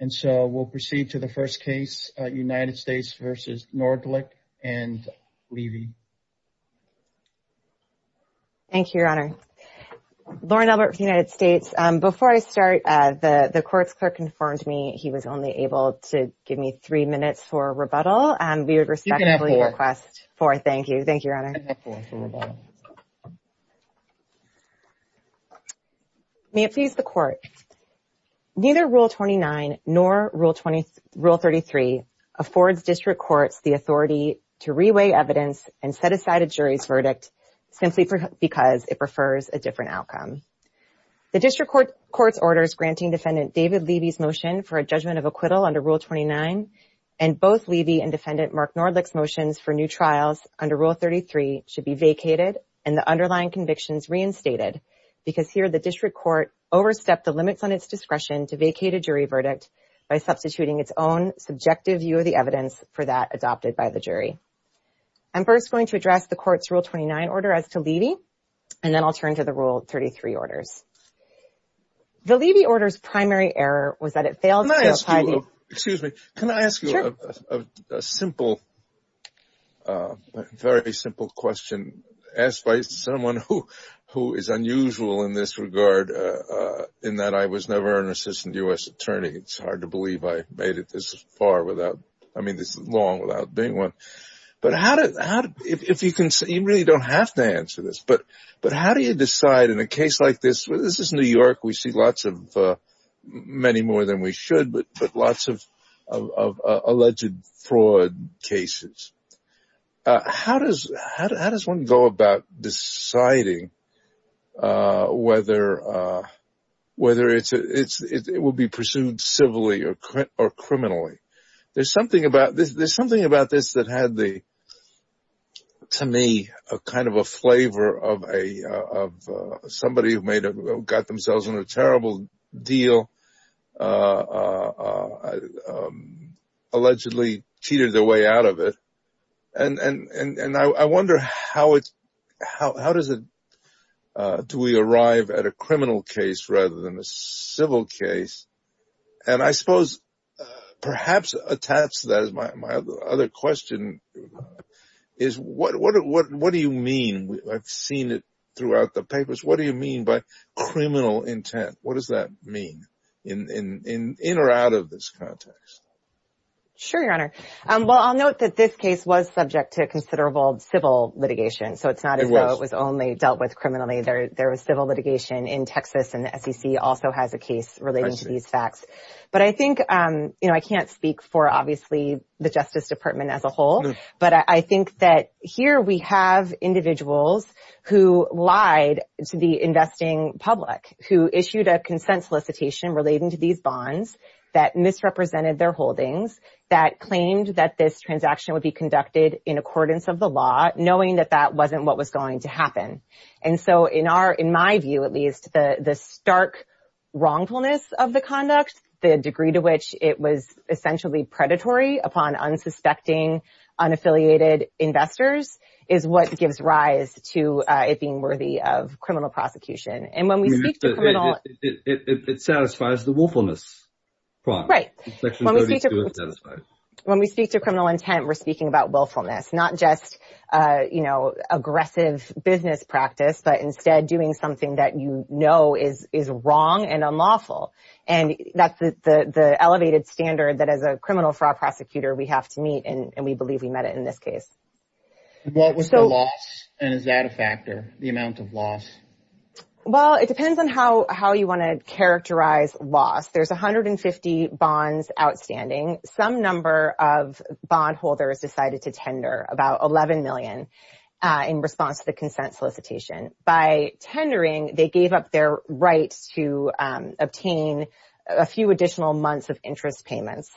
And so we'll proceed to the first case, United States v. Nordlicht and Levy. Thank you, Your Honor. Lauren Albert from the United States. Before I start, the court's clerk informed me he was only able to give me three minutes for a rebuttal, and we would respectfully request four. Thank you. Thank you, Your Honor. May it please the Court. Neither Rule 29 nor Rule 33 affords district courts the authority to reweigh evidence and set aside a jury's verdict simply because it prefers a different outcome. The district court's orders granting Defendant David Levy's motion for a judgment of acquittal under Rule 29 and both Levy and Defendant Mark Nordlicht's motions for new trials under Rule 33 should be vacated and the underlying convictions reinstated, because here the district court overstepped the limits on its discretion to vacate a jury verdict by substituting its own subjective view of the evidence for that adopted by the jury. I'm first going to address the court's Rule 29 order as to Levy, and then I'll turn to the Rule 33 orders. The Levy order's primary error was that it failed to give a jury a verdict. I'm going to ask you a very simple question asked by someone who is unusual in this regard, in that I was never an assistant U.S. attorney. It's hard to believe I made it this far without being one. You really don't have to answer this, but how do you decide in a case like this? This is New York. We see many more than we should, but lots of alleged fraud cases. How does one go about deciding whether it will be pursued civilly or criminally? There's something about this that had, to me, a flavor of somebody who got themselves in a terrible deal, allegedly cheated their way out of it. I wonder how do we arrive at a criminal case rather than a civil case? I suppose perhaps attached to that is my other question. What do you mean? I've seen it throughout the papers. What do you mean by criminal intent? What does that mean, in or out of this context? Sure, Your Honor. I'll note that this case was subject to considerable civil litigation, so it's not as though it was only dealt with criminally. There was civil litigation in Texas, and the SEC also has a case relating to these facts. I can't speak for the Justice Department as a whole, but I think that here we have individuals who lied to the investing public, who issued a consent solicitation relating to these bonds that misrepresented their holdings, that claimed that this transaction would be conducted in accordance with the law, knowing that that wasn't what was going to happen. In my view, at least, the stark wrongfulness of the conduct, the degree to which it was essentially predatory upon unsuspecting, unaffiliated investors, is what gives rise to it being worthy of criminal prosecution. It satisfies the willfulness part. Right. When we speak to criminal intent, we're speaking about willfulness, not just aggressive business practice, but instead, doing something that you know is wrong and unlawful. That's the elevated standard that, as a criminal fraud prosecutor, we have to meet, and we believe we met it in this case. What was the loss, and is that a factor, the amount of loss? Well, it depends on how you want to characterize loss. There's 150 bonds outstanding. Some number of bondholders decided to tender about $11 million in response to the consent solicitation. By tendering, they gave up their right to obtain a few additional months of interest payments.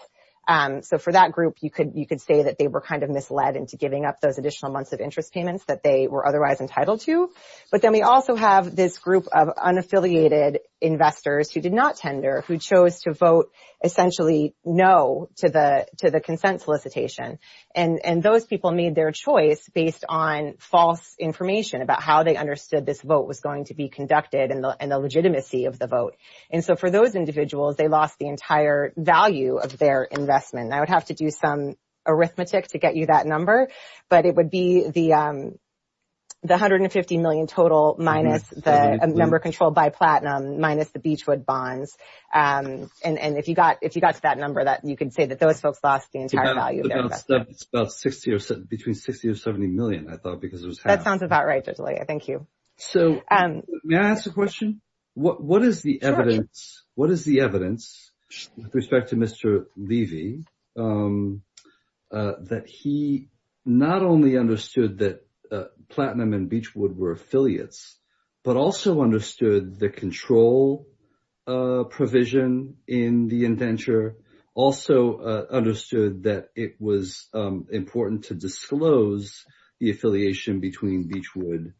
So, for that group, you could say that they were kind of misled into giving up those additional months of interest payments that they were otherwise entitled to. But then we also have this group of unaffiliated investors who did not tender, who chose to vote essentially no to the consent solicitation. Those people made their choice based on false information about how they understood this vote was going to be conducted and the legitimacy of the vote. So, for those individuals, they lost the entire value of their investment. I would have to do some arithmetic to get you that number, but it would be the $150 million total minus the number of people who lost the entire value of their investment. It's between $60 or $70 million, I thought, because it was half. That sounds about right, Joselia. Thank you. May I ask a question? What is the evidence with respect to Mr. Levy that he not only understood that platinum and beechwood were affiliates, but also understood the control provision in the indenture, also understood that it was important to disclose the affiliation between beechwood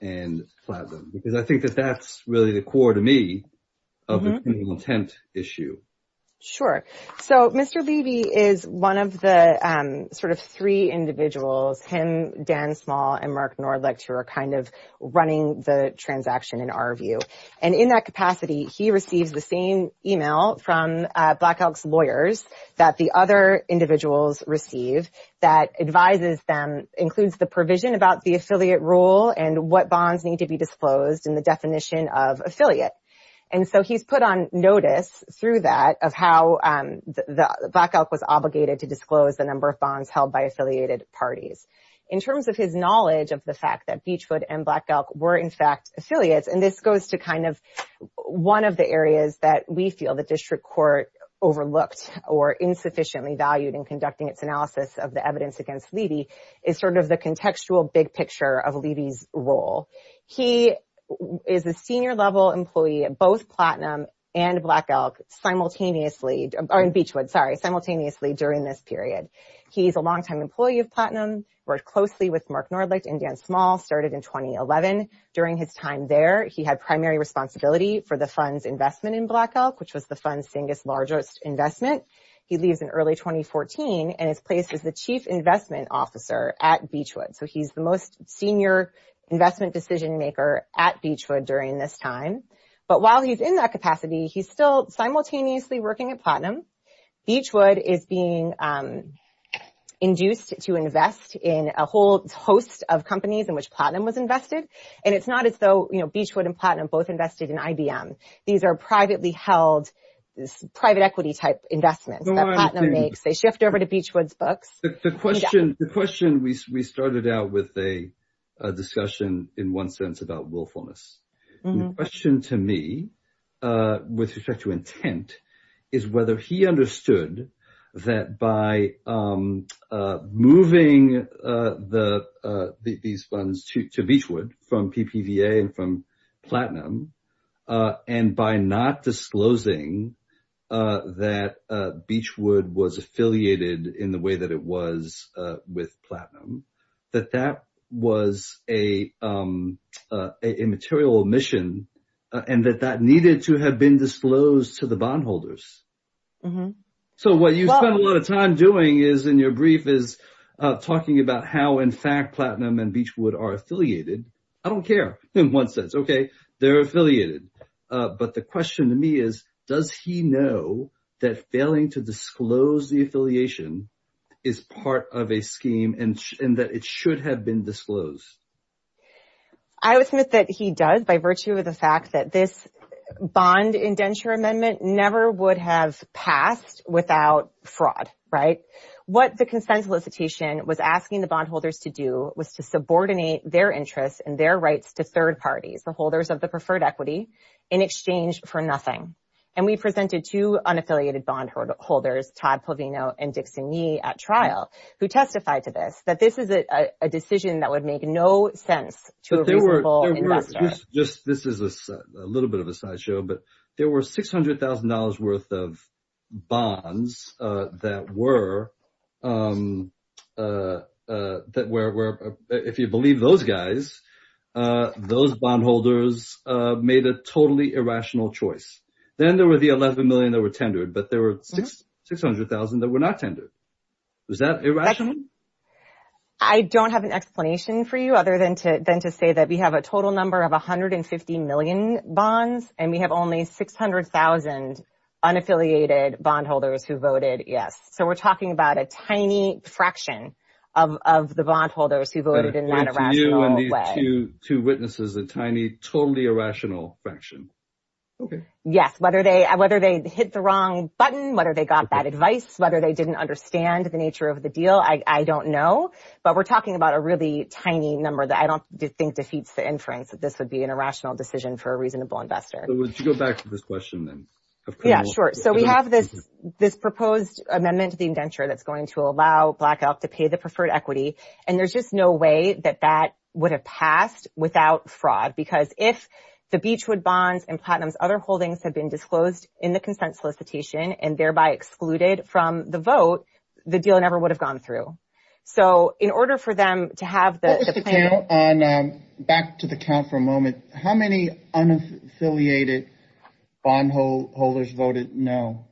and platinum? Because I think that that's really the core, to me, of the intent issue. Sure. So, Mr. Levy is one of the sort of three individuals, him, Dan Small, and Mark Nordlicht, who are kind of running the and in that capacity, he receives the same email from Black Elk's lawyers that the other individuals receive that advises them, includes the provision about the affiliate rule and what bonds need to be disclosed and the definition of affiliate. And so, he's put on notice through that of how Black Elk was obligated to disclose the number of bonds held by affiliated parties. In terms of his knowledge of the fact that beechwood and Black Elk were, in fact, affiliates, and this goes to kind of one of the areas that we feel the district court overlooked or insufficiently valued in conducting its analysis of the evidence against Levy, is sort of the contextual big picture of Levy's role. He is a senior-level employee of both platinum and Black Elk simultaneously, or in beechwood, sorry, simultaneously during this period. He's a longtime employee of platinum, worked closely with Mark Nordlicht and Dan Small, started in 2011. During his time there, he had primary responsibility for the fund's investment in Black Elk, which was the fund's biggest, largest investment. He leaves in early 2014, and his place is the chief investment officer at beechwood. So, he's the most senior investment decision maker at beechwood during this time. But while he's in that capacity, he's still simultaneously working at platinum. Beechwood is being induced to invest in a whole host of places where platinum was invested, and it's not as though, you know, beechwood and platinum both invested in IBM. These are privately held, private equity type investments that platinum makes. They shift over to beechwood's books. The question, we started out with a discussion, in one sense, about willfulness. The question to me, with respect to intent, is whether he understood that by moving these funds to beechwood from PPVA and from platinum, and by not disclosing that beechwood was affiliated in the way that it was with platinum, that that was a material omission, and that that needed to have been disclosed to the bondholders. So, what you spent a lot of time doing is, in your brief, is talking about how, in fact, platinum and beechwood are affiliated. I don't care, in one sense. Okay, they're affiliated. But the question to me is, does he know that failing to disclose the affiliation is part of a scheme and that it should have been disclosed? I would submit that he does, by virtue of the fact that this would have passed without fraud, right? What the consent solicitation was asking the bondholders to do was to subordinate their interests and their rights to third parties, the holders of the preferred equity, in exchange for nothing. And we presented two unaffiliated bondholders, Todd Polvino and Dickson Yee, at trial, who testified to this, that this is a decision that would make no sense to a reasonable investor. This is a little bit of a sideshow, but there were $600,000 worth of bonds that were, if you believe those guys, those bondholders made a totally irrational choice. Then there were the $11 million that were tendered, but there were $600,000 that were not tendered. Was that irrational? I don't have an explanation for you, other than to say that we have a total number of 150 million bonds, and we have only 600,000 unaffiliated bondholders who voted yes. So we're talking about a tiny fraction of the bondholders who voted in that irrational way. Two witnesses, a tiny, totally irrational fraction. Okay, yes. Whether they hit the wrong button, whether they got that advice, whether they didn't understand the nature of the deal, I don't know. But we're talking about a really inference that this would be an irrational decision for a reasonable investor. So would you go back to this question, then? Yeah, sure. So we have this proposed amendment to the indenture that's going to allow Black Elk to pay the preferred equity, and there's just no way that that would have passed without fraud. Because if the Beechwood bonds and Platinum's other holdings had been disclosed in the consent solicitation and thereby excluded from the vote, the deal never would have gone through. So in order for them to have the— Back to the count for a moment. How many unaffiliated bondholders voted no?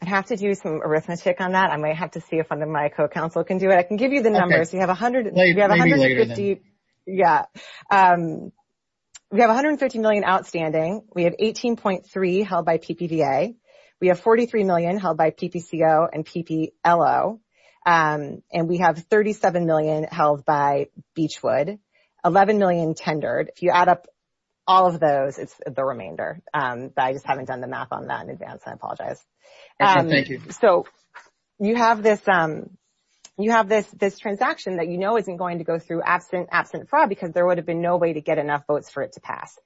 I'd have to do some arithmetic on that. I might have to see if one of my co-counsel can do it. I can give you the numbers. We have 150 million outstanding. We have 18.3 held by PPVA. We have Beechwood. 11 million tendered. If you add up all of those, it's the remainder. I just haven't done the math on that in advance. I apologize. Thank you. So you have this transaction that you know isn't going to go through absent fraud, because there would have been no way to get enough votes for it to pass.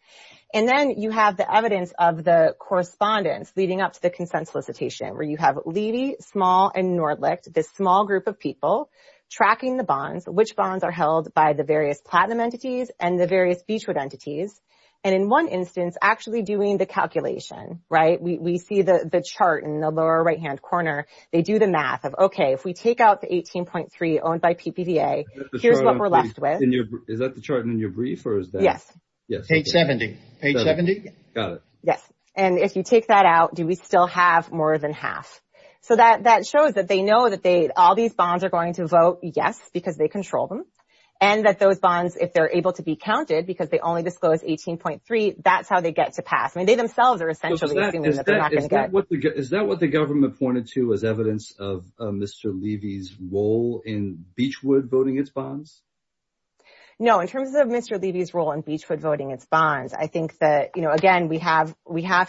And then you have the evidence of the correspondence leading up to the consent solicitation, where you have Levy, Small, and Nordlicht, this small group of people tracking the bonds, which bonds are held by the various platinum entities and the various Beechwood entities, and in one instance, actually doing the calculation, right? We see the chart in the lower right-hand corner. They do the math of, okay, if we take out the 18.3 owned by PPVA, here's what we're left with. Is that the chart in your brief, or is that— Yes. Page 70. Page 70? Got it. Yes. And if you take that out, do we still have more than half? So that shows that they know that all these bonds are going to vote yes, because they control them, and that those bonds, if they're able to be counted, because they only disclosed 18.3, that's how they get to pass. I mean, they themselves are essentially assuming that they're not going to get— Is that what the government pointed to as evidence of Mr. Levy's role in Beechwood voting its bonds? No. In terms of Mr. Levy's role in Beechwood voting its bonds, I think that, you know, again, we have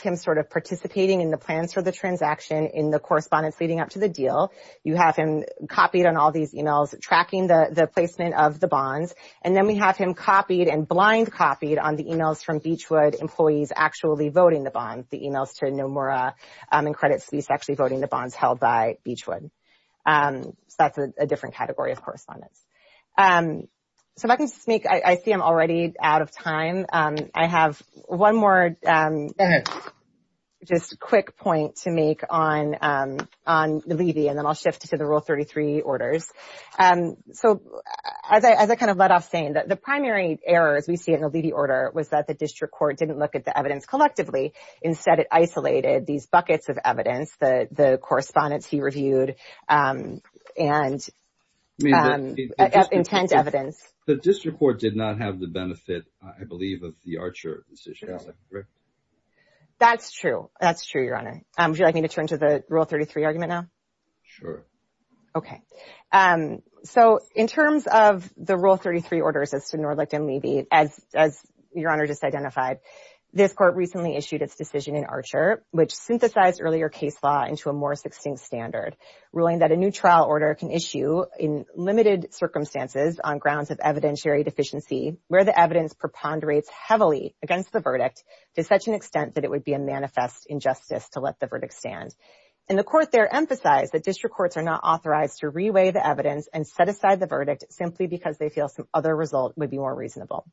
him sort of participating in the plans for the transaction in the correspondence leading up to the deal. You have him copied on all these emails, tracking the placement of the bonds, and then we have him copied and blind copied on the emails from Beechwood employees actually voting the bond, the emails to Nomura and Credit Suisse actually voting the bonds held by Beechwood. So that's a different category of correspondence. So if I can just make—I will shift to the Rule 33 orders. So as I kind of led off saying, the primary error, as we see in the Levy order, was that the district court didn't look at the evidence collectively. Instead, it isolated these buckets of evidence, the correspondence he reviewed and intent evidence. The district court did not have the benefit, I believe, of the Archer decision. That's true. That's true, Your Honor. Would you like me to turn to the Rule 33 argument? Sure. Okay. So in terms of the Rule 33 orders as to Nordlicht and Levy, as Your Honor just identified, this court recently issued its decision in Archer, which synthesized earlier case law into a more succinct standard, ruling that a new trial order can issue in limited circumstances on grounds of evidentiary deficiency where the evidence preponderates heavily against the verdict to such an extent that it would be a manifest injustice to let the verdict stand. And the court there emphasized that district courts are not authorized to reweigh the evidence and set aside the verdict simply because they feel some other result would be more reasonable.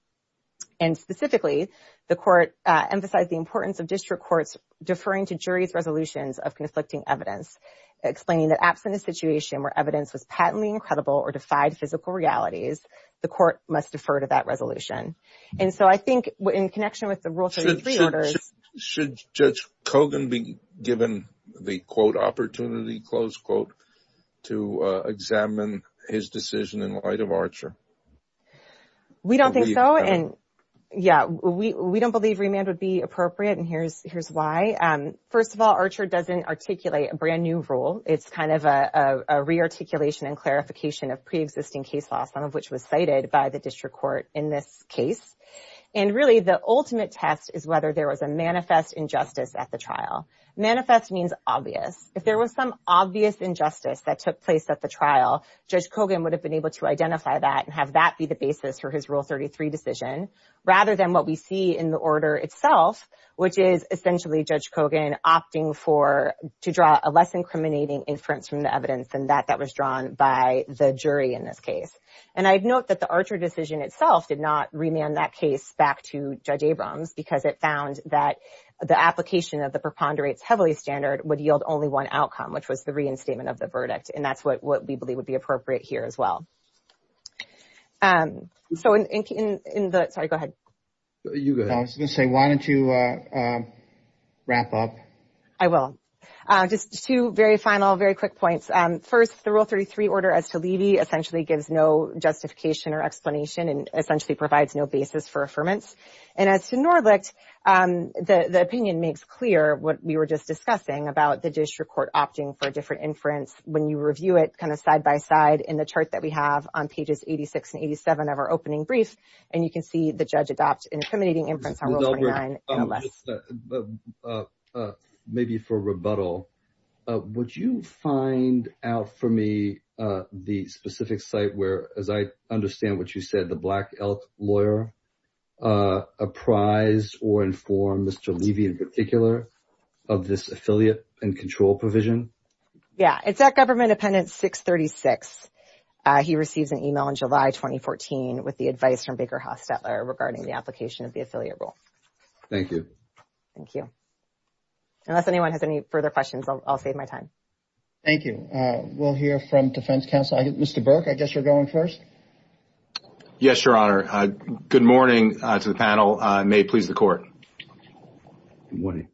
And specifically, the court emphasized the importance of district courts deferring to jury's resolutions of conflicting evidence, explaining that absent a situation where evidence was patently incredible or defied physical realities, the court must defer to that resolution. And so I think in connection with the Rule 33 orders— the, quote, opportunity, close quote, to examine his decision in light of Archer. We don't think so. And yeah, we don't believe remand would be appropriate. And here's why. First of all, Archer doesn't articulate a brand new rule. It's kind of a re-articulation and clarification of pre-existing case law, some of which was cited by the district court in this case. And really, the ultimate test is whether there was a manifest injustice at the trial. Manifest means obvious. If there was some obvious injustice that took place at the trial, Judge Kogan would have been able to identify that and have that be the basis for his Rule 33 decision rather than what we see in the order itself, which is essentially Judge Kogan opting to draw a less incriminating inference from the evidence than that that was drawn by the jury in this case. And I'd note that the Archer decision itself did not remand that case back to Judge Kogan. And that's what we believe would be appropriate here as well. So in the... Sorry, go ahead. You go ahead. I was going to say, why don't you wrap up? I will. Just two very final, very quick points. First, the Rule 33 order as to Levy essentially gives no justification or explanation and essentially provides no basis for affirmance. And as to Norlicht, the opinion makes clear what we were just discussing about the district court opting for a different inference when you review it kind of side by side in the chart that we have on pages 86 and 87 of our opening brief. And you can see the judge adopts an incriminating inference on Rule 29. Maybe for rebuttal, would you find out for me the specific site where, as I understand what you said, the Black Elk lawyer apprised or informed Mr. Levy in particular of this affiliate and control provision? Yeah. It's at Government Appendix 636. He receives an email in July 2014 with the advice from Baker Hostetler regarding the application of the affiliate rule. Thank you. Thank you. Unless anyone has any further questions, I'll save my time. Thank you. We'll hear from Defense Counsel. Mr. Burke, I guess you're going first. Yes, Your Honor. Good morning to the panel. May it please the Court. Good morning.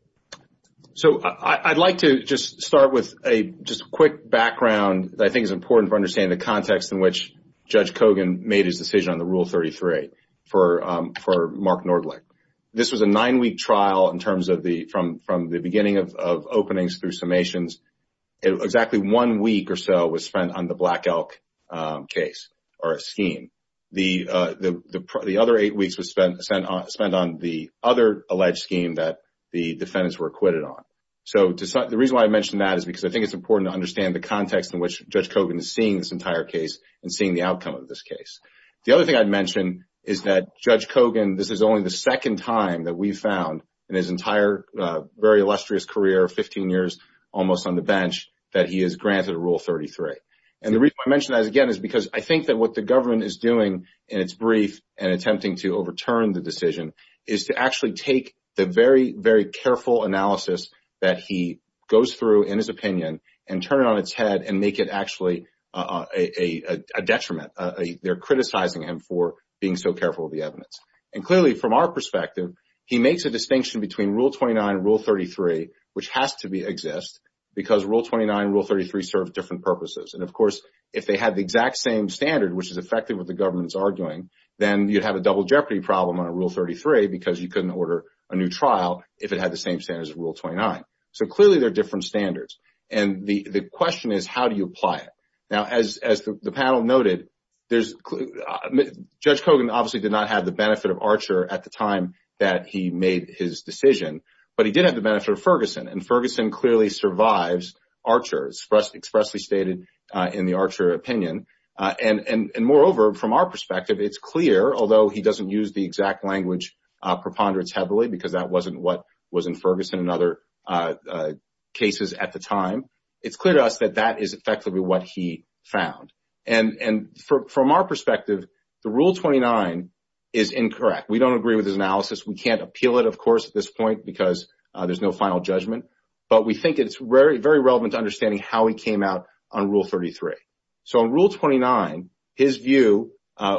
So I'd like to just start with a just quick background that I think is important for understanding the context in which Judge Kogan made his decision on the Rule 33 for Mark Norlicht. This was a nine-week trial in terms of the beginning of openings through summations. Exactly one week or so was spent on the Black Elk case or scheme. The other eight weeks were spent on the other alleged scheme that the defendants were acquitted on. So the reason why I mention that is because I think it's important to understand the context in which Judge Kogan is seeing this entire case and seeing the outcome of this case. The other thing I'd mention is that Judge Kogan, this is only the second time that we've found in his entire very illustrious career of 15 years, almost on the bench, that he has granted Rule 33. And the reason I mention that again is because I think that what the government is doing in its brief and attempting to overturn the decision is to actually take the very, very careful analysis that he goes through in his opinion and turn it on its head and make it actually a detriment. They're criticizing him for being so careful of the evidence. And clearly, from our perspective, he makes a distinction between Rule 29 and Rule 33, which has to exist, because Rule 29 and Rule 33 serve different purposes. And of course, if they had the exact same standard, which is effective with the government's arguing, then you'd have a double jeopardy problem on a Rule 33 because you couldn't order a new trial if it had the same standards as Rule 29. So clearly, they're different standards. And the question is, how do you apply it? Now, as the panel noted, Judge Kogan obviously did not have the benefit of Archer at the time that he made his decision, but he did have the benefit of Ferguson. And Ferguson clearly survives Archer, expressly stated in the Archer opinion. And moreover, from our perspective, it's clear, although he doesn't use the exact language preponderance heavily because that wasn't what was in Ferguson and other cases at the time, it's clear to us that that is effectively what he found. And from our perspective, the Rule 29 is incorrect. We don't agree with his analysis. We can't appeal it, of course, at this point, because there's no final judgment. But we think it's very relevant to understanding how he came out on Rule 33. So on Rule 29, his view,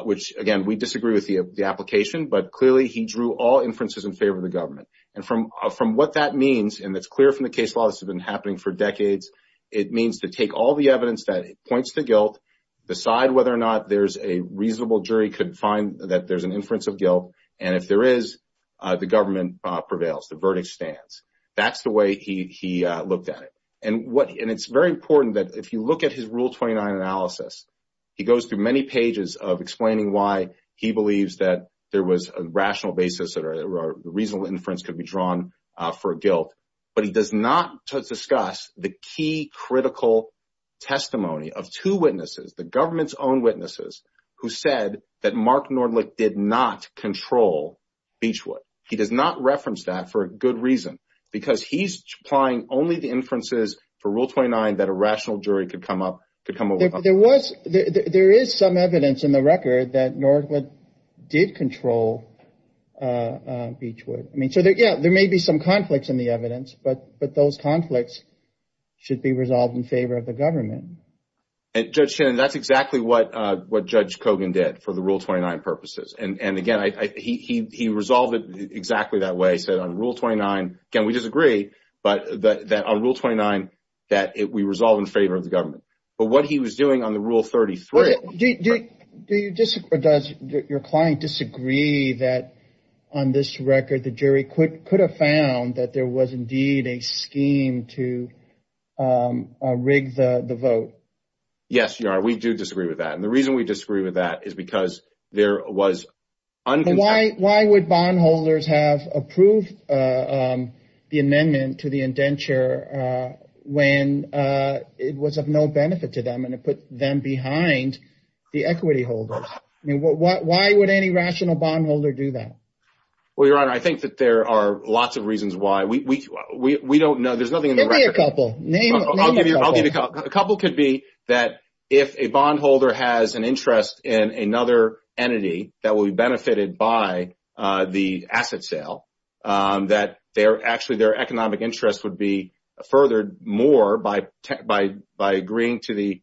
which again, we disagree with the application, but clearly, he drew all inferences in favor of the government. And from what that means, and that's clear from the case law, this has been happening for decades, it means to take all the evidence that points to guilt, decide whether or not there's a reasonable jury could find that there's an inference of guilt. And if there is, the government prevails, the verdict stands. That's the way he looked at it. And it's very important that if you look at his Rule 29 analysis, he goes through many pages of explaining why he believes that there was a rational basis that a reasonable inference could be drawn for guilt. But he does not discuss the key critical testimony of two witnesses, the government's own witnesses, who said that Mark Nordlich did not control Beachwood. He does not reference that for a good reason, because he's applying only the inferences for Rule 29 that a rational jury could come up, could come up with. There is some evidence in the record that Nordlich did control Beachwood. I mean, so yeah, there may be some conflicts in the evidence, but those conflicts should be resolved in favor of the government. And Judge Shannon, that's exactly what Judge Kogan did for the Rule 29 purposes. And again, he resolved it exactly that way. He said on Rule 29, again, we disagree, but that on Rule 29, that we resolve in favor of the government. But what he was doing on the Rule 33... Do you disagree or does your client disagree that on this record, the jury could have found that there was indeed a scheme to rig the vote? Yes, we do disagree with that. And the reason we disagree with that is because there was... Why would bondholders have approved the amendment to the indenture when it was of no benefit to them and it put them behind the equity holders? I mean, why would any rational bondholder do that? Well, Your Honor, I think that there are lots of reasons why. We don't know. There's nothing... Give me a couple. Name a couple. A couple could be that if a bondholder has an interest in another entity that will be benefited by the asset sale, that actually their economic interest would be furthered more by agreeing to the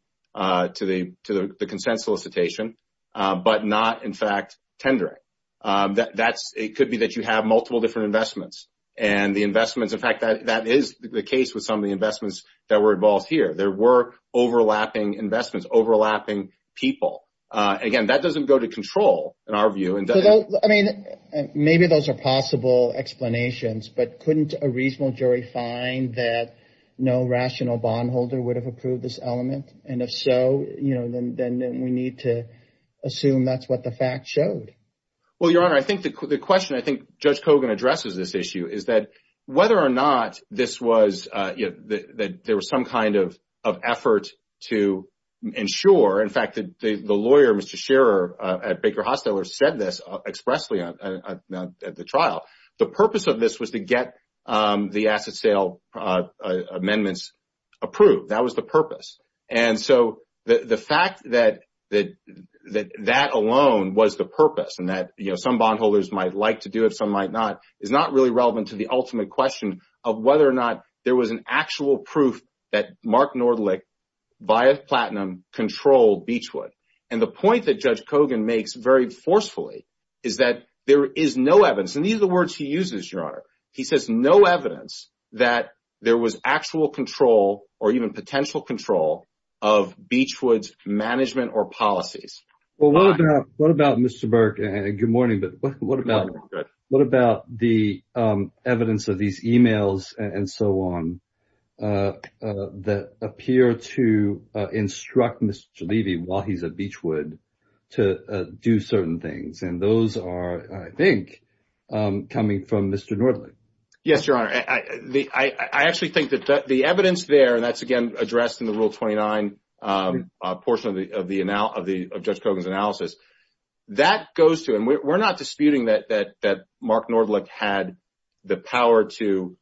consent solicitation, but not in fact tendering. It could be that you have multiple different investments and the investments... In fact, that is the case with some of the investments that were involved here. There were overlapping investments, overlapping people. Again, that doesn't go to control in our view. I mean, maybe those are possible explanations, but couldn't a reasonable jury find that no rational bondholder would have approved this element? And if so, then we need to assume that's what the fact showed. Well, Your Honor, I think the question I think Judge Kogan addresses this issue is that whether or not this was... That there was some kind of effort to ensure... In fact, the lawyer, Mr. Scherer at Baker Hosteller, said this expressly at the trial. The purpose of this was to get the asset sale amendments approved. That was the purpose. And so the fact that that alone was the purpose and that some bondholders might like to do it, some might not, is not really relevant to the ultimate question of whether or not there was an actual proof that Mark Nordlich via Platinum controlled Beechwood. And the point that Judge Kogan makes very forcefully is that there is no evidence. And these are the words he uses, Your Honor. He says no evidence that there was actual control or even potential control of Beechwood's management or policies. Well, what about Mr. Burke? Good morning, but what about the evidence of these emails and so on that appear to instruct Mr. Levy, while he's at Beechwood, to do certain things? And those are, I think, coming from Mr. Nordlich. Yes, Your Honor. I actually think that the evidence there, and that's again addressed in the Rule 29 portion of Judge Kogan's analysis, that goes to, and we're not disputing that Mark Nordlich had the power to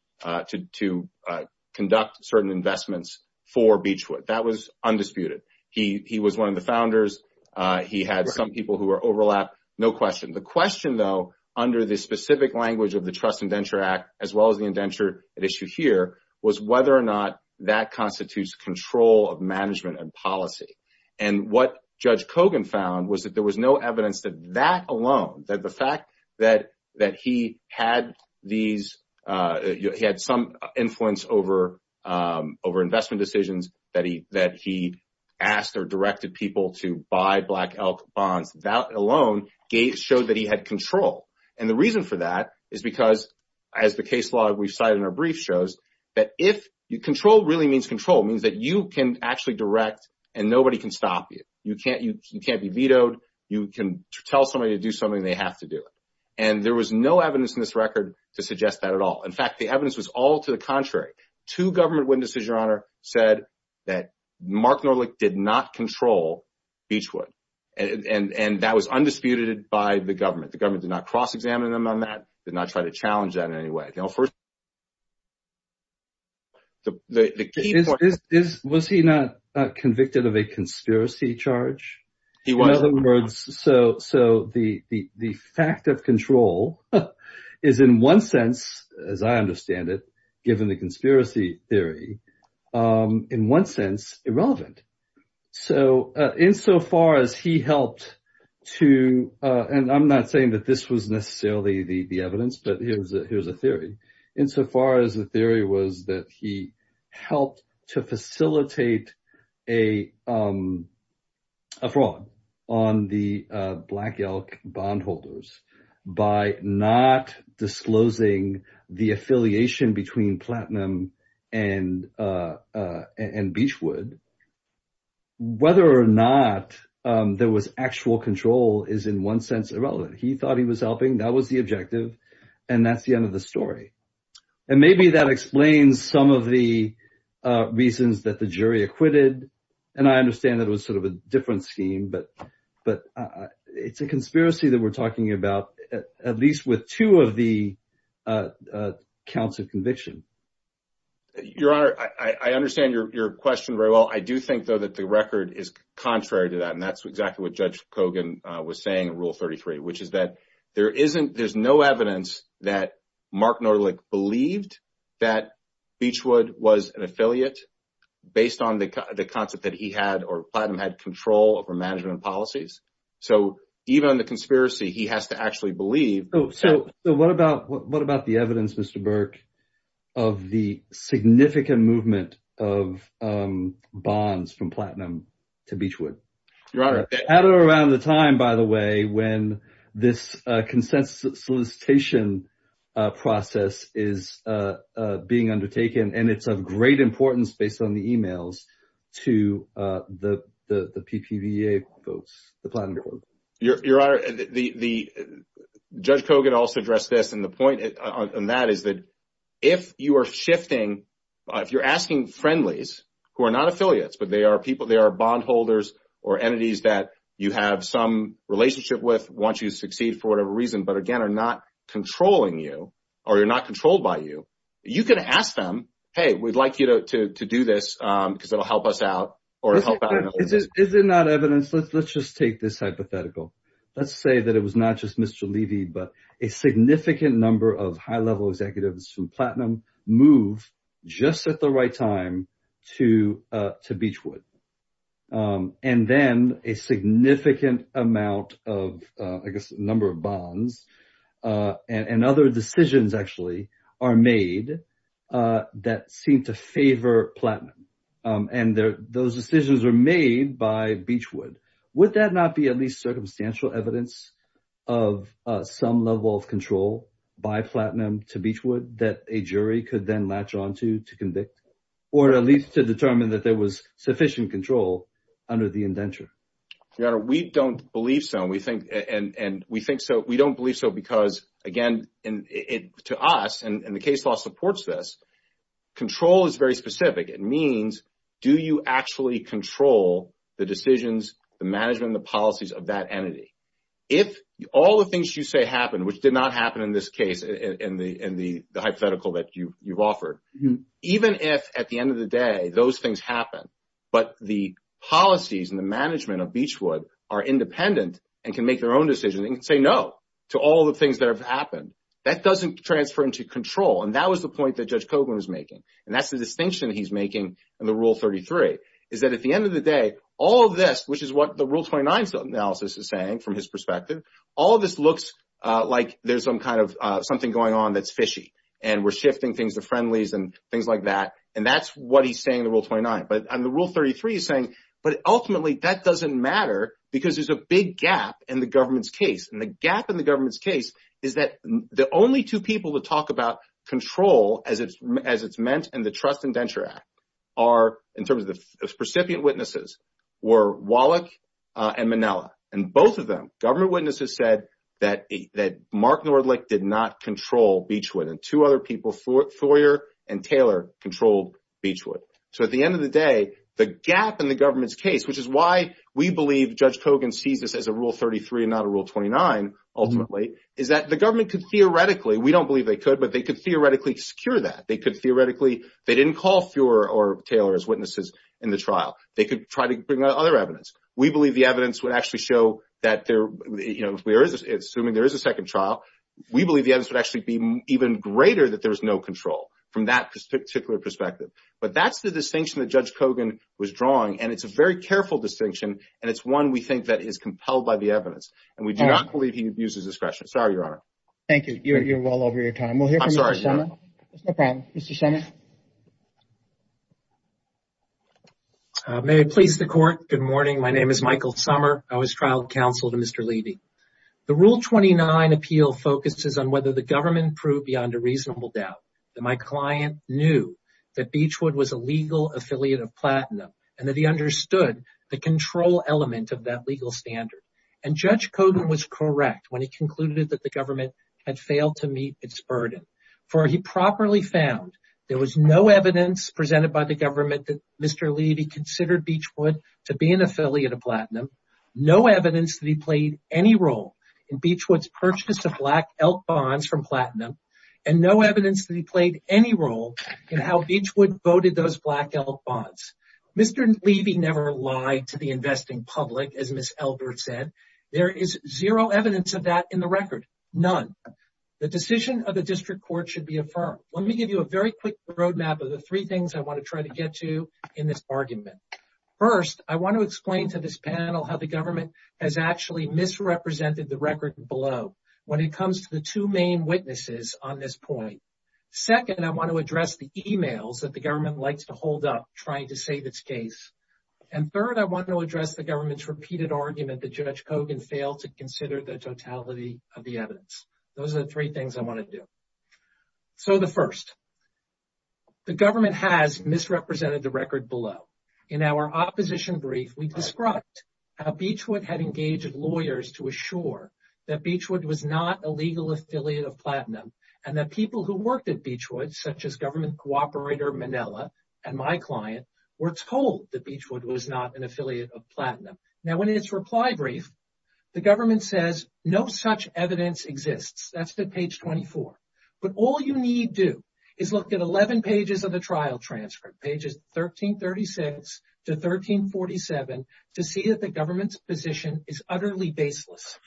conduct certain investments for Beechwood. That was undisputed. He was one of the founders. He had some people who were overlapped. No question. The question, though, under the specific language of the Trust Indenture Act, as well as the indenture at issue here, was whether or not that constitutes control of management and policy. And what Judge Kogan found was that there was no evidence that that alone, that the fact that he had some influence over investment decisions, that he asked or directed people to buy black elk bonds, that alone showed that he had control. And the reason for that is because, as the case law we've cited in our brief shows, that if, control really means control, it means that you can actually direct and nobody can stop you. You can't be vetoed. You can tell somebody to do something, they have to do it. And there was no evidence in this record to suggest that at all. In fact, the evidence was all to the contrary. Two government witnesses, Your Honor, said that Mark Nordlich did not control Beechwood. And that was undisputed by the government. The government did not cross-examine them on that, did not try to Was he not convicted of a conspiracy charge? In other words, so the fact of control is in one sense, as I understand it, given the conspiracy theory, in one sense irrelevant. So insofar as he helped to, and I'm not saying that this was necessarily the evidence, but here's a theory, insofar as the theory was that he helped to facilitate a fraud on the Black Elk bondholders by not disclosing the affiliation between Platinum and Beechwood. Whether or not there was actual control is in one sense irrelevant. He thought he was helping, that was the objective, and that's the end of the story. And maybe that explains some of the reasons that the jury acquitted, and I understand that it was sort of a different scheme, but it's a conspiracy that we're talking about, at least with two of the counts of conviction. Your Honor, I understand your question very well. I do think, though, that the record is contrary to that, and that's exactly what Judge Kogan was saying in Rule 33, which is that there's no evidence that Mark Norlick believed that Beechwood was an affiliate, based on the concept that he had, or Platinum had control over management policies. So even in the conspiracy, he has to actually believe. Oh, so what about the evidence, Mr. Burke, of the significant movement of bonds from Platinum to Beechwood? Your Honor— At or around the time, by the way, when this consent solicitation process is being undertaken, and it's of great importance, based on the emails, to the PPVA folks, the Platinum folks. Your Honor, Judge Kogan also addressed this, and the point on that is that if you are shifting, if you're asking friendlies, who are not affiliates, but they are people, they are bondholders or entities that you have some relationship with, want you to succeed for whatever reason, but again, are not controlling you, or you're not controlled by you, you can ask them, hey, we'd like you to do this, because it'll help us out. Is it not evidence? Let's just take this hypothetical. Let's say that it was not just Mr. Levy, but a significant number of high-level executives from Platinum move just at the right time to Beechwood, and then a significant amount of, I guess, number of bonds and other decisions, actually, are made that seem to favor Platinum, and those decisions are made by Beechwood. Would that not be at least circumstantial evidence of some level of control by Platinum to Beechwood that a jury could then latch onto to convict, or at least to determine that there was sufficient control under the indenture? Your Honor, we don't believe so, and we think, and we think so, we don't believe so because, again, to us, and the case law supports this, control is very specific. It means, do you actually control the decisions, the management, the policies of that entity? If all the things you say happen, which did not happen in this case, in the hypothetical that you've offered, even if, at the end of the day, those things happen, but the policies and the management of Beechwood are independent and can make their own decisions, they can say no to all the things that have happened. That doesn't transfer into control, and that was the point that Judge Coghlan was making, and that's the distinction he's making in the Rule 33, is that at the end of the day, all of this, which is what the Rule 29 analysis is saying from his perspective, all of this looks like there's some kind of something going on that's fishy, and we're shifting things to friendlies and things like that, and that's what he's saying in the Rule 29. But on the Rule 33, he's saying, but ultimately, that doesn't matter because there's a big gap in the government's case, and the gap in the government's case is that the only two people to talk about control as it's meant in the Trust Indenture Act are, in terms of the recipient witnesses, were Wallach and Minella, and both of them, government witnesses said that Mark Nordlich did not control Beechwood, and two other people, Thoyer and Taylor, controlled Beechwood. So at the end of the day, the gap in the government's case, which is why we believe Judge Coghlan sees this as a Rule 33 and not a Rule 29, ultimately, is that the government could theoretically, we don't believe they could, but they could call Thoyer or Taylor as witnesses in the trial. They could try to bring other evidence. We believe the evidence would actually show that there, you know, assuming there is a second trial, we believe the evidence would actually be even greater that there's no control from that particular perspective. But that's the distinction that Judge Coghlan was drawing, and it's a very careful distinction, and it's one we think that is compelled by the evidence, and we do not believe he abuses discretion. Sorry, Your Honor. Thank you. You're well over your time. We'll hear from Mr. Shemin. May it please the Court. Good morning. My name is Michael Sommer. I was trial counsel to Mr. Levy. The Rule 29 appeal focuses on whether the government proved beyond a reasonable doubt that my client knew that Beechwood was a legal affiliate of Platinum, and that he understood the control element of that legal standard. And Judge Coghlan was correct when he concluded that government had failed to meet its burden, for he properly found there was no evidence presented by the government that Mr. Levy considered Beechwood to be an affiliate of Platinum, no evidence that he played any role in Beechwood's purchase of black elk bonds from Platinum, and no evidence that he played any role in how Beechwood voted those black elk bonds. Mr. Levy never lied to the investing public, as Ms. Elbert said. There is zero evidence of that in the record, none. The decision of the district court should be affirmed. Let me give you a very quick roadmap of the three things I want to try to get to in this argument. First, I want to explain to this panel how the government has actually misrepresented the record below when it comes to the two main witnesses on this point. Second, I want to address the emails that the government likes to hold up trying to save its case. And third, I want to address the government's repeated argument that Judge Coghlan failed to consider the totality of the evidence. Those are the three things I want to do. So the first, the government has misrepresented the record below. In our opposition brief, we described how Beechwood had engaged lawyers to assure that Beechwood was not a legal affiliate of Platinum, and that people who worked at Beechwood, such as government co-operator Manella and my client, were told that Beechwood was not an affiliate of Platinum. Now, in its reply brief, the government says, no such evidence exists. That is at page 24. But all you need to do is look at 11 pages of the trial transcript, pages 1336 to 1347, to see that the government's position is utterly baseless.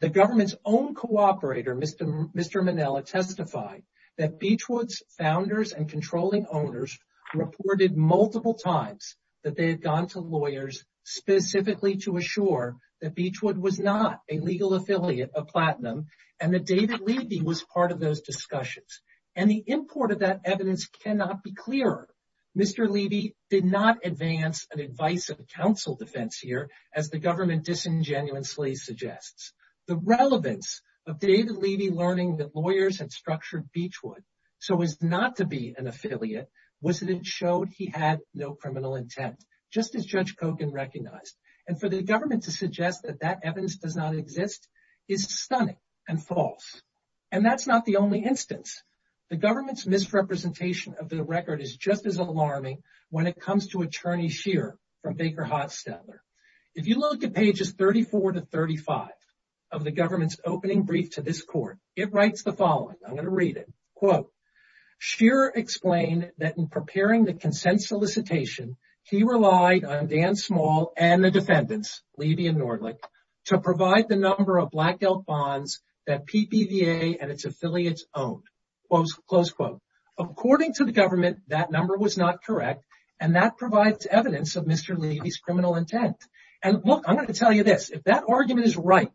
The government's own co-operator, Mr. Manella, testified that Beechwood's founders and controlling owners reported multiple times that they had gone to lawyers specifically to assure that Beechwood was not a legal affiliate of Platinum, and that David Levy was part of those discussions. And the import of that evidence cannot be clearer. Mr. Levy did not advance an advice of counsel defense here, as the government disingenuously suggests. The relevance of David Levy learning that lawyers had structured Beechwood so as not to be an affiliate was that it showed he had no criminal intent, just as Judge Kogan recognized. And for the government to suggest that that evidence does not exist is stunning and false. And that's not the only instance. The government's misrepresentation of the record is just as alarming when it comes to Attorney Scheer from Baker-Hotz-Stetler. If you look at pages 34 to 35 of the government's opening brief to this court, it writes the following. I'm going to read it. Quote, Scheer explained that in preparing the consent solicitation, he relied on Dan Small and the defendants, Levy and Nordlich, to provide the number of black belt bonds that PPVA and its affiliates owned. Close quote. According to the government, that number was not correct, and that provides evidence of Mr. Levy's criminal intent. And look, I'm going to tell you this, if that argument is right,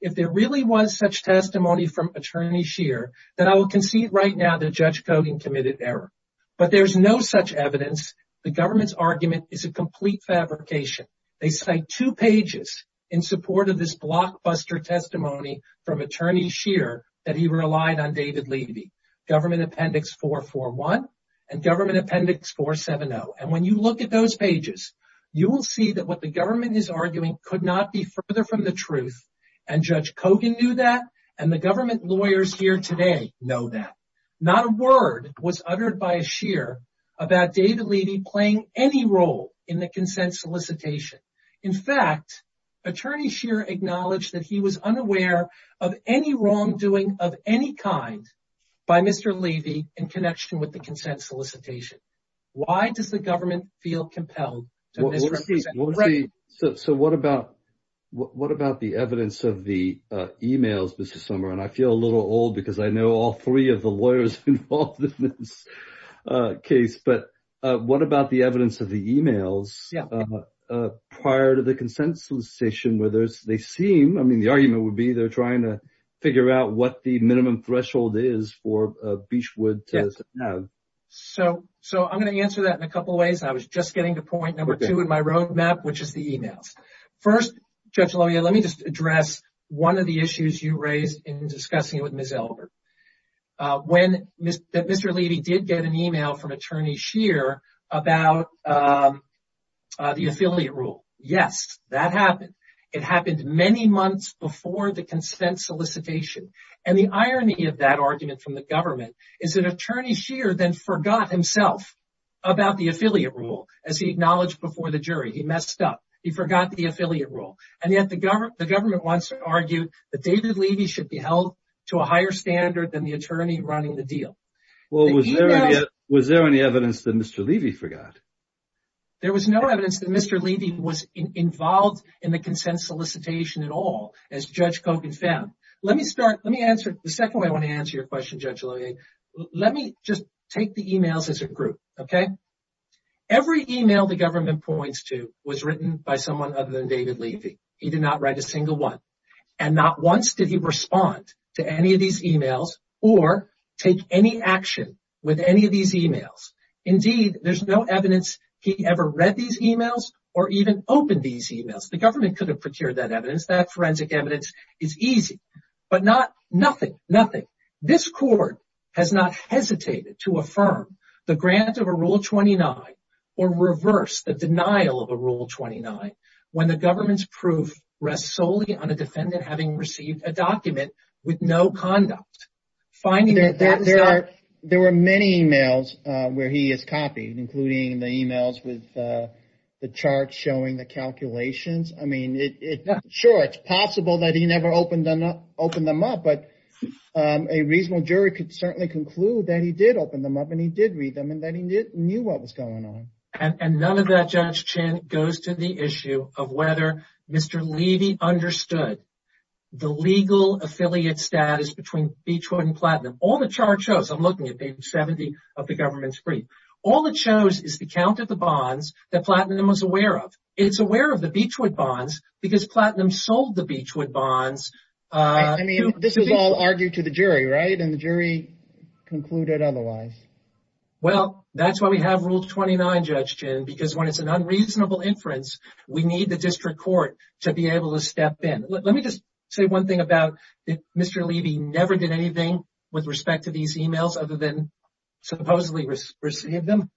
if there really was such testimony from Attorney Scheer, then I will concede right now that Judge Kogan committed error. But there's no such evidence. The government's argument is a complete fabrication. They cite two pages in support of this blockbuster testimony from Attorney Scheer that he relied on David Levy, Government Appendix 441 and Government Appendix 470. And when you look at those pages, you will see that what the government is arguing could not be further from the truth, and Judge Kogan knew that, and the government lawyers here today know that. Not a word was uttered by a Scheer about David Levy playing any role in the consent solicitation. In fact, Attorney Scheer acknowledged that he was unaware of any wrongdoing of any kind by Mr. Levy in connection with the consent solicitation. Why does the government feel compelled? So what about the evidence of the emails, Mr. Sommer? And I feel a little old because I know all three of the lawyers involved in this case. But what about the evidence of the emails prior to the consent solicitation? I mean, the argument would be they're trying to figure out what the minimum threshold is for Beechwood to have. So I'm going to answer that in a couple of ways. I was just getting to point number two in my roadmap, which is the emails. First, Judge Loya, let me just address one of the issues you raised in discussing it with Ms. Elbert. When Mr. Levy did get an email from Attorney Scheer about the affiliate rule, yes, that happened. It happened many months before the consent solicitation. And the irony of that argument from the government is that Attorney Scheer then forgot himself about the affiliate rule as he acknowledged before the jury. He messed up. He forgot the affiliate rule. And yet the government once argued that David Levy should be held to a higher standard than the attorney running the deal. Well, was there any evidence that Mr. Levy forgot? There was no evidence that Mr. Levy was involved in the consent solicitation at all, as Judge Kogan found. Let me start. Let me answer. The second way I want to answer your question, Judge Loya, let me just take the emails as a group, OK? Every email the government points to was written by someone other than David Levy. He did not write a single one. And not once did he respond to any of these emails or take any action with any of these emails. Indeed, there's no evidence he ever read these emails or even opened these emails. The government could have procured that evidence. That forensic evidence is easy, but not nothing, nothing. This court has not hesitated to affirm the grant of a Rule 29 or reverse the denial of a Rule 29 when the government's proof rests solely on a defendant having received a document with no conduct. There were many emails where he has copied, including the emails with the chart showing the calculations. I mean, sure, it's possible that he never opened them up, but a reasonable jury could certainly conclude that he did open them up and he did read them and that he knew what was going on. And none of that, Judge Chin, goes to the issue of whether Mr. Levy had an affiliate status between Beechwood and Platinum. All the chart shows, I'm looking at page 70 of the government's brief, all it shows is the count of the bonds that Platinum was aware of. It's aware of the Beechwood bonds because Platinum sold the Beechwood bonds. I mean, this is all argued to the jury, right? And the jury concluded otherwise. Well, that's why we have Rule 29, Judge Chin, because when it's an unreasonable inference, we need the district court to be able to step in. Let me just say one thing about whether Mr. Levy never did anything with respect to these emails other than supposedly receiving them.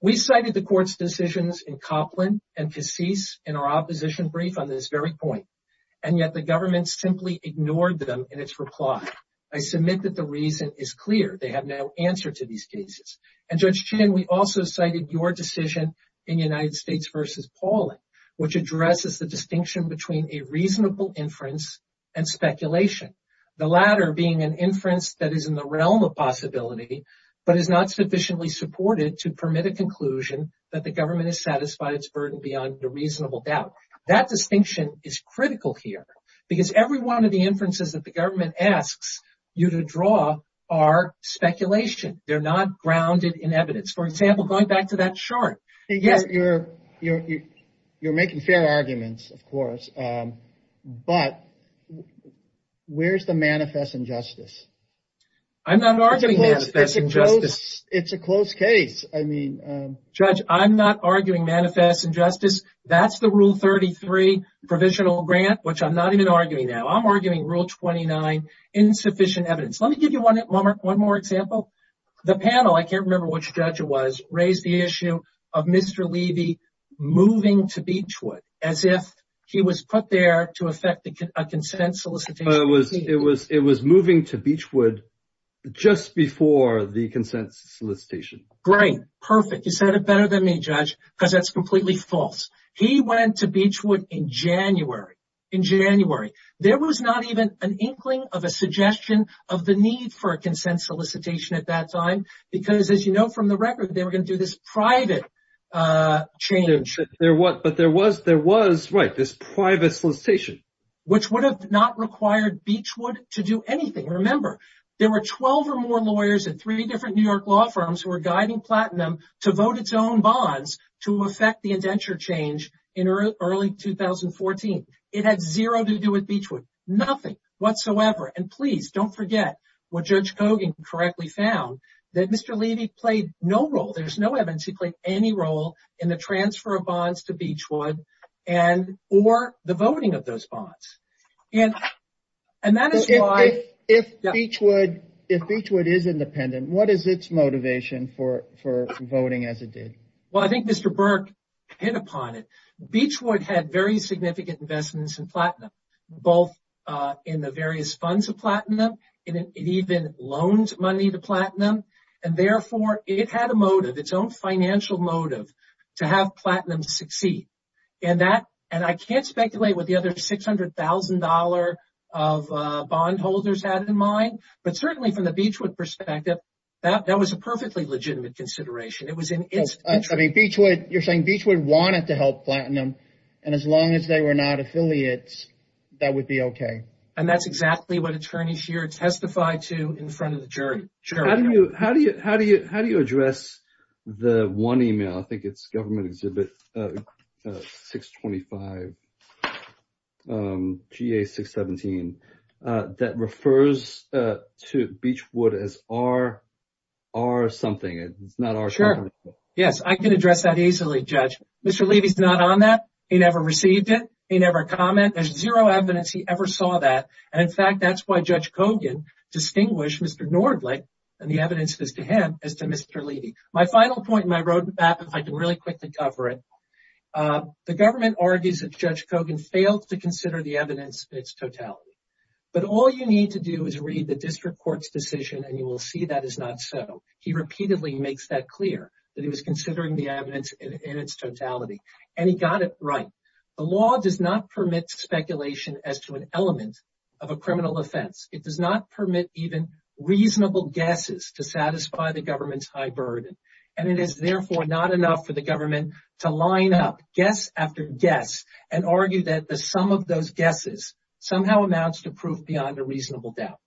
We cited the court's decisions in Copland and Cassis in our opposition brief on this very point, and yet the government simply ignored them in its reply. I submit that the reason is clear. They have no answer to these cases. And Judge Chin, we also cited your decision in United between a reasonable inference and speculation, the latter being an inference that is in the realm of possibility but is not sufficiently supported to permit a conclusion that the government has satisfied its burden beyond a reasonable doubt. That distinction is critical here because every one of the inferences that the government asks you to draw are speculation. They're not grounded in evidence. For example, going back to that chart. You're making fair arguments, of course, but where's the manifest injustice? I'm not arguing manifest injustice. It's a close case. Judge, I'm not arguing manifest injustice. That's the Rule 33 provisional grant, which I'm not even arguing now. I'm arguing Rule 29, insufficient evidence. Let me give you one more example. The panel, I can't remember which judge it was, raised the issue of Mr. Levy moving to Beechwood as if he was put there to affect a consent solicitation. It was moving to Beechwood just before the consent solicitation. Great. Perfect. You said it better than me, Judge, because that's completely false. He went to Beechwood in January. There was not even an inkling of a suggestion of the need for a consent solicitation at that time because, as you know from the record, they were going to do this private change. But there was this private solicitation. Which would have not required Beechwood to do anything. Remember, there were 12 or more lawyers at three different New York law firms who were guiding Platinum to vote its own bonds to affect indenture change in early 2014. It had zero to do with Beechwood. Nothing whatsoever. And please don't forget what Judge Coggan correctly found, that Mr. Levy played no role, there's no evidence he played any role in the transfer of bonds to Beechwood or the voting of those bonds. If Beechwood is independent, what is its motivation for voting as it did? Well, I think Mr. Burke hit upon it. Beechwood had very significant investments in Platinum, both in the various funds of Platinum. It even loans money to Platinum. And therefore, it had a motive, its own financial motive, to have Platinum succeed. And I can't speculate what the other $600,000 of bond holders had in mind, but certainly from Beechwood's perspective, that was a perfectly legitimate consideration. You're saying Beechwood wanted to help Platinum, and as long as they were not affiliates, that would be okay. And that's exactly what attorneys here testified to in front of the jury. How do you address the one email, I think it's Government Exhibit 625, GA-617, that refers to Beechwood as R-something. It's not R-something. Yes, I can address that easily, Judge. Mr. Levy's not on that. He never received it. He never commented. There's zero evidence he ever saw that. And in fact, that's why Judge Kogan distinguished Mr. Nordling, and the evidence is to him, as to Mr. Levy. My final point in my roadmap, if I can really quickly cover it, the government argues that Judge Kogan failed to consider the evidence in its totality. But all you need to do is read the district court's decision, and you will see that is not so. He repeatedly makes that clear, that he was considering the evidence in its totality. And he got it right. The law does not permit speculation as to an element of a criminal offense. It does not permit even reasonable guesses to satisfy the government's high burden. And it is therefore not enough for the government to line up, guess after guess, and argue that the sum of those guesses somehow amounts to proof beyond a reasonable doubt.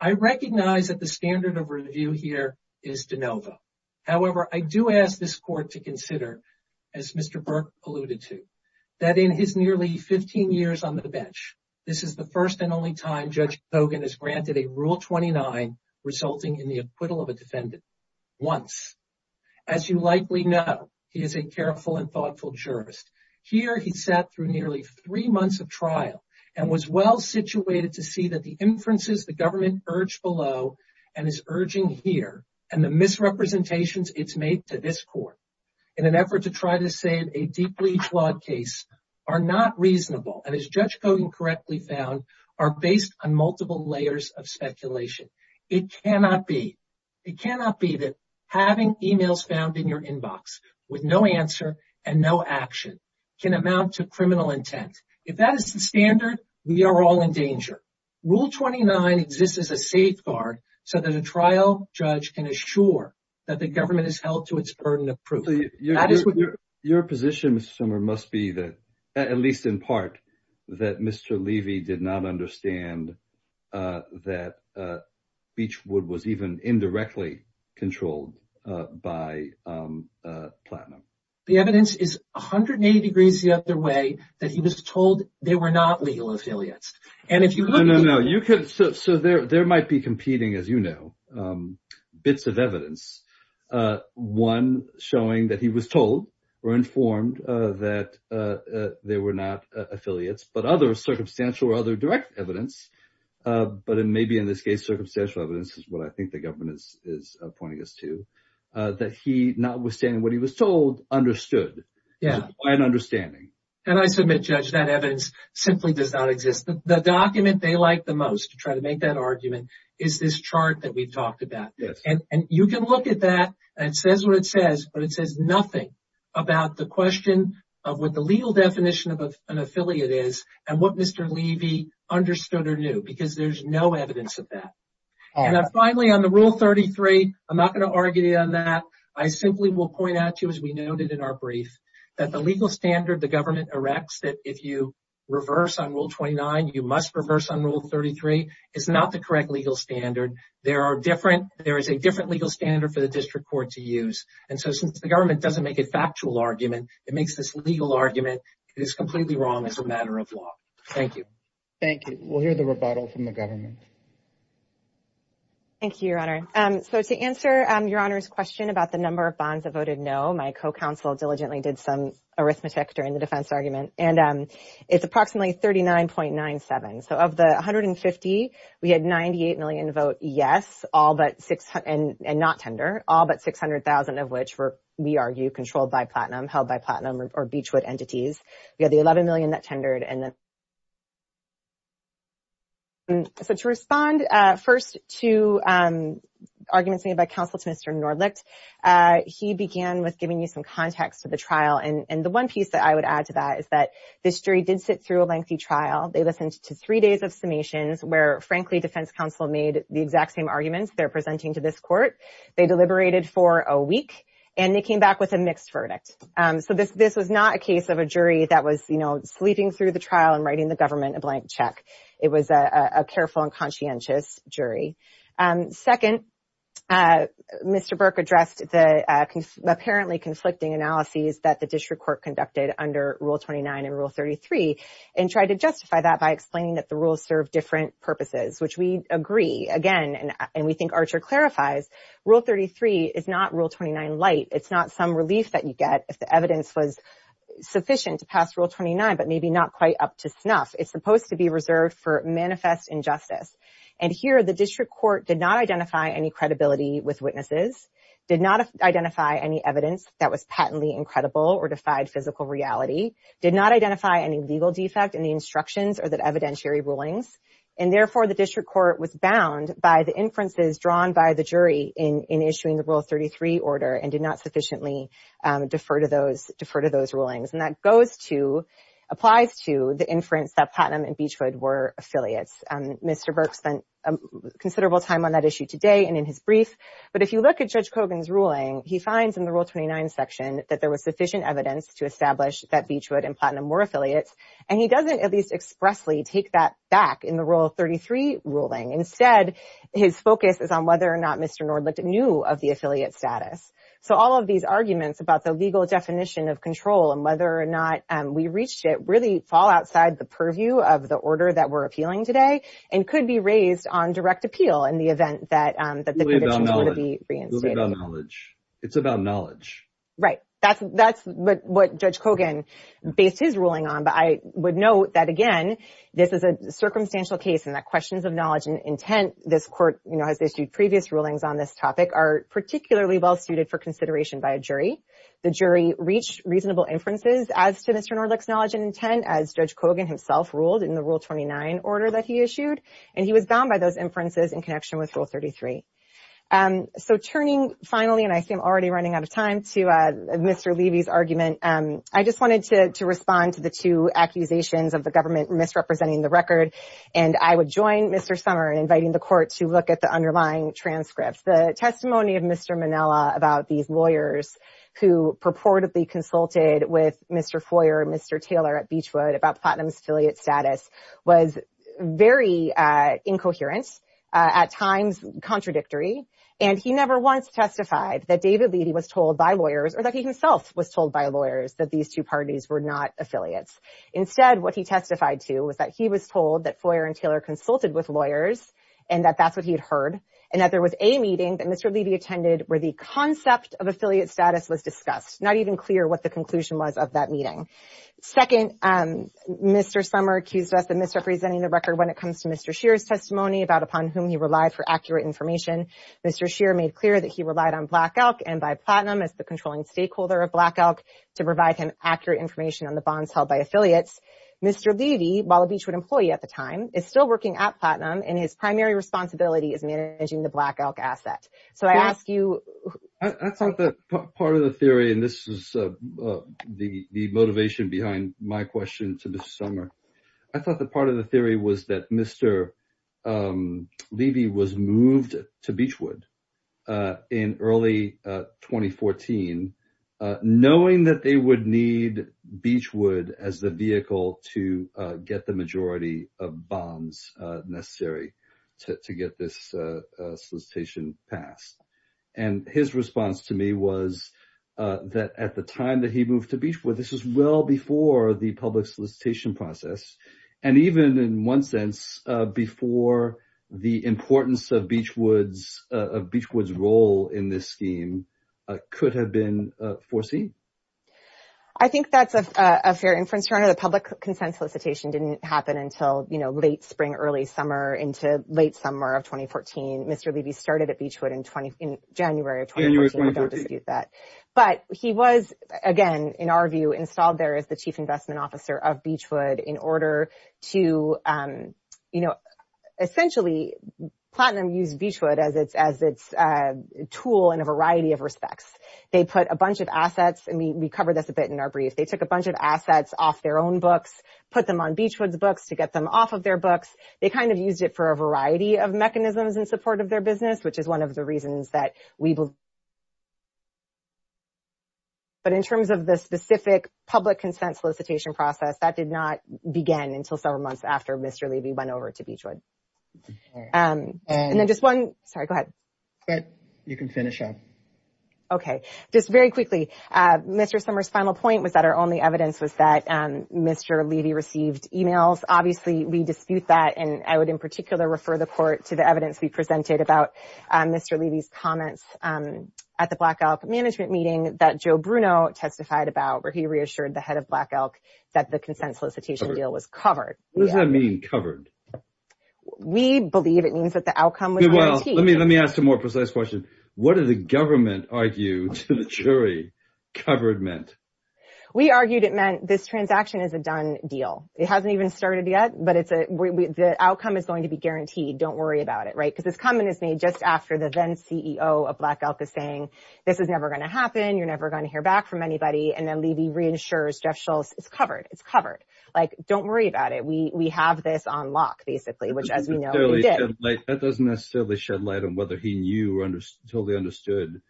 I recognize that the standard of review here is de novo. However, I do ask this court to consider, as Mr. Burke alluded to, that in his nearly 15 years on the bench, this is the first and only time Judge Kogan has granted a Rule 29 resulting in the acquittal of a defendant. Once. As you likely know, he is a careful and thoughtful jurist. Here, he sat through nearly three months of trial and was well situated to see that the inferences the government urged below, and is urging here, and the misrepresentations it's made to this court, in an effort to try to save a deeply flawed case, are not reasonable and, as Judge Kogan correctly found, are based on multiple layers of speculation. It cannot be. It cannot be that having emails found in your inbox with no answer and no action can amount to criminal intent. If that is the standard, we are all in danger. Rule 29 exists as a safeguard so that a trial judge can assure that the government has held to its burden of at least, in part, that Mr. Levy did not understand that Beachwood was even indirectly controlled by Platinum. The evidence is 180 degrees the other way, that he was told they were not legal affiliates. And if you look... No, no, no. So there might be competing, as you know, bits of evidence. One showing that he was told or informed that they were not affiliates, but other circumstantial or other direct evidence, but it may be in this case circumstantial evidence is what I think the government is pointing us to, that he, notwithstanding what he was told, understood. Yeah. It's quite an understanding. And I submit, Judge, that evidence simply does not exist. The document they like the most, to try to make that argument, is this chart that we've talked about. And you can look at that, and it says what it says, but it says nothing about the question of what the legal definition of an affiliate is, and what Mr. Levy understood or knew, because there's no evidence of that. And finally, on the Rule 33, I'm not going to argue on that. I simply will point out to you, as we noted in our brief, that the legal standard the government erects, that if you reverse on Rule 33, is not the correct legal standard. There is a different legal standard for the district court to use. And so, since the government doesn't make a factual argument, it makes this legal argument, it is completely wrong as a matter of law. Thank you. Thank you. We'll hear the rebuttal from the government. Thank you, Your Honor. So, to answer Your Honor's question about the number of bonds that voted no, my co-counsel diligently did some arithmetic during the defense argument, and it's approximately 39.97. So, of the 150, we had 98 million vote yes, and not tender, all but 600,000 of which were, we argue, controlled by Platinum, held by Platinum or Beachwood entities. We had the 11 million that tendered. So, to respond first to arguments made by counsel to Mr. Nordlicht, he began with giving you some context of the trial. And the one piece that I would add to that is that this jury did sit a lengthy trial. They listened to three days of summations where, frankly, defense counsel made the exact same arguments they're presenting to this court. They deliberated for a week, and they came back with a mixed verdict. So, this was not a case of a jury that was, you know, sleeping through the trial and writing the government a blank check. It was a careful and conscientious jury. Second, Mr. Burke addressed the apparently conflicting analyses that the tried to justify that by explaining that the rules serve different purposes, which we agree. Again, and we think Archer clarifies, Rule 33 is not Rule 29 light. It's not some relief that you get if the evidence was sufficient to pass Rule 29, but maybe not quite up to snuff. It's supposed to be reserved for manifest injustice. And here, the district court did not identify any credibility with witnesses, did not identify any evidence that was patently incredible or defied physical reality, did not identify any legal defect in the instructions or the evidentiary rulings, and therefore, the district court was bound by the inferences drawn by the jury in issuing the Rule 33 order and did not sufficiently defer to those rulings. And that goes to, applies to, the inference that Putnam and Beachwood were affiliates. Mr. Burke spent considerable time on that issue today and in his brief, but if you look at Judge Kogan's ruling, he finds in the Rule 29 section that there was sufficient evidence to establish that Beachwood and Putnam were affiliates, and he doesn't at least expressly take that back in the Rule 33 ruling. Instead, his focus is on whether or not Mr. Nord looked new of the affiliate status. So all of these arguments about the legal definition of control and whether or not we reached it really fall outside the purview of the order that we're appealing today and could be raised on direct appeal in the event that the conditions would be reinstated. It's about knowledge. Right, that's what Judge Kogan based his ruling on, but I would note that again, this is a circumstantial case and that questions of knowledge and intent, this court, you know, has issued previous rulings on this topic, are particularly well suited for consideration by a jury. The jury reached reasonable inferences as to Mr. Nord's knowledge and intent as Judge Kogan himself ruled in the Rule 29 order that he issued, and he was bound by those inferences in connection with Rule 33. So turning finally, and I see I'm already running out of time, to Mr. Levy's argument. I just wanted to respond to the two accusations of the government misrepresenting the record, and I would join Mr. Sommer in inviting the court to look at the underlying transcripts. The testimony of Mr. Minella about these lawyers who purportedly consulted with Mr. Foyer and Mr. Taylor at the time was very incoherent, at times contradictory, and he never once testified that David Levy was told by lawyers, or that he himself was told by lawyers, that these two parties were not affiliates. Instead, what he testified to was that he was told that Foyer and Taylor consulted with lawyers, and that that's what he had heard, and that there was a meeting that Mr. Levy attended where the concept of affiliate status was discussed. Not even clear what the conclusion was of that Mr. Scheer's testimony about upon whom he relied for accurate information. Mr. Scheer made clear that he relied on Black Elk and by Platinum as the controlling stakeholder of Black Elk to provide him accurate information on the bonds held by affiliates. Mr. Levy, Walla Beachwood employee at the time, is still working at Platinum, and his primary responsibility is managing the Black Elk asset. So I ask you... I thought that part of the theory, and this is the motivation behind my summer, I thought the part of the theory was that Mr. Levy was moved to Beachwood in early 2014, knowing that they would need Beachwood as the vehicle to get the majority of bonds necessary to get this solicitation passed. And his response to me was that at the And even in one sense, before the importance of Beachwood's role in this scheme could have been foreseen. I think that's a fair inference. The public consent solicitation didn't happen until, you know, late spring, early summer, into late summer of 2014. Mr. Levy started at Beachwood in January of 2014. But he was, again, in our view, installed there as the chief investment officer of Beachwood in order to, you know, essentially, Platinum used Beachwood as its tool in a variety of respects. They put a bunch of assets, and we covered this a bit in our brief, they took a bunch of assets off their own books, put them on Beachwood's books to get them off of their books. They kind of used it for a variety of mechanisms in support of their business, which is one of the reasons that we... But in terms of the specific public consent solicitation process, that did not begin until several months after Mr. Levy went over to Beachwood. And then just one... Sorry, go ahead. You can finish up. Okay. Just very quickly, Mr. Summer's final point was that our only evidence was that Mr. Levy received emails. Obviously, we dispute that. And I would in particular refer the court to the evidence we presented about Mr. Levy's comments at the Black Elk management meeting that Joe Bruno testified about, where he reassured the head of Black Elk that the consent solicitation deal was covered. What does that mean, covered? We believe it means that the outcome was guaranteed. Let me ask a more precise question. What did the government argue to the jury covered meant? We argued it meant this transaction is a done deal. It hasn't even started yet, but the outcome is going to be guaranteed. Don't worry about it, right? Because this comment is just after the then CEO of Black Elk is saying, this is never going to happen. You're never going to hear back from anybody. And then Levy reassures Jeff Schultz, it's covered. It's covered. Like, don't worry about it. We have this on lock, basically, which as we know, we did. That doesn't necessarily shed light on whether he knew or totally understood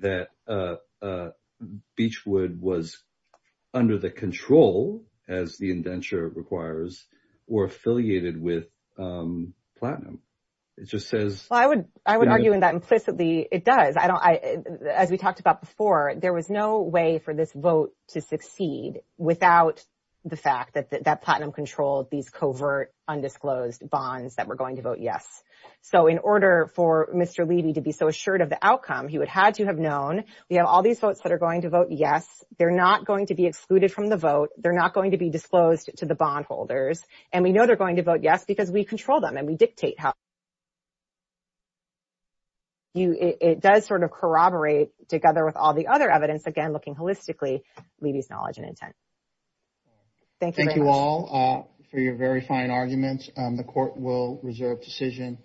that Beachwood was under the control, as the indenture requires, or affiliated with Platinum. It just says... I would argue in that implicitly, it does. As we talked about before, there was no way for this vote to succeed without the fact that Platinum controlled these covert, undisclosed bonds that were going to vote yes. So in order for Mr. Levy to be so assured of the outcome, he would had to have known we have all these votes that are going to vote yes. They're not going to be excluded from the vote. They're not going to be disclosed to the bondholders. And we know they're going to vote yes because we control them and we dictate how... It does sort of corroborate together with all the other evidence, again, looking holistically, Levy's knowledge and intent. Thank you very much. Thank you all for your very fine arguments. The court will reserve decision.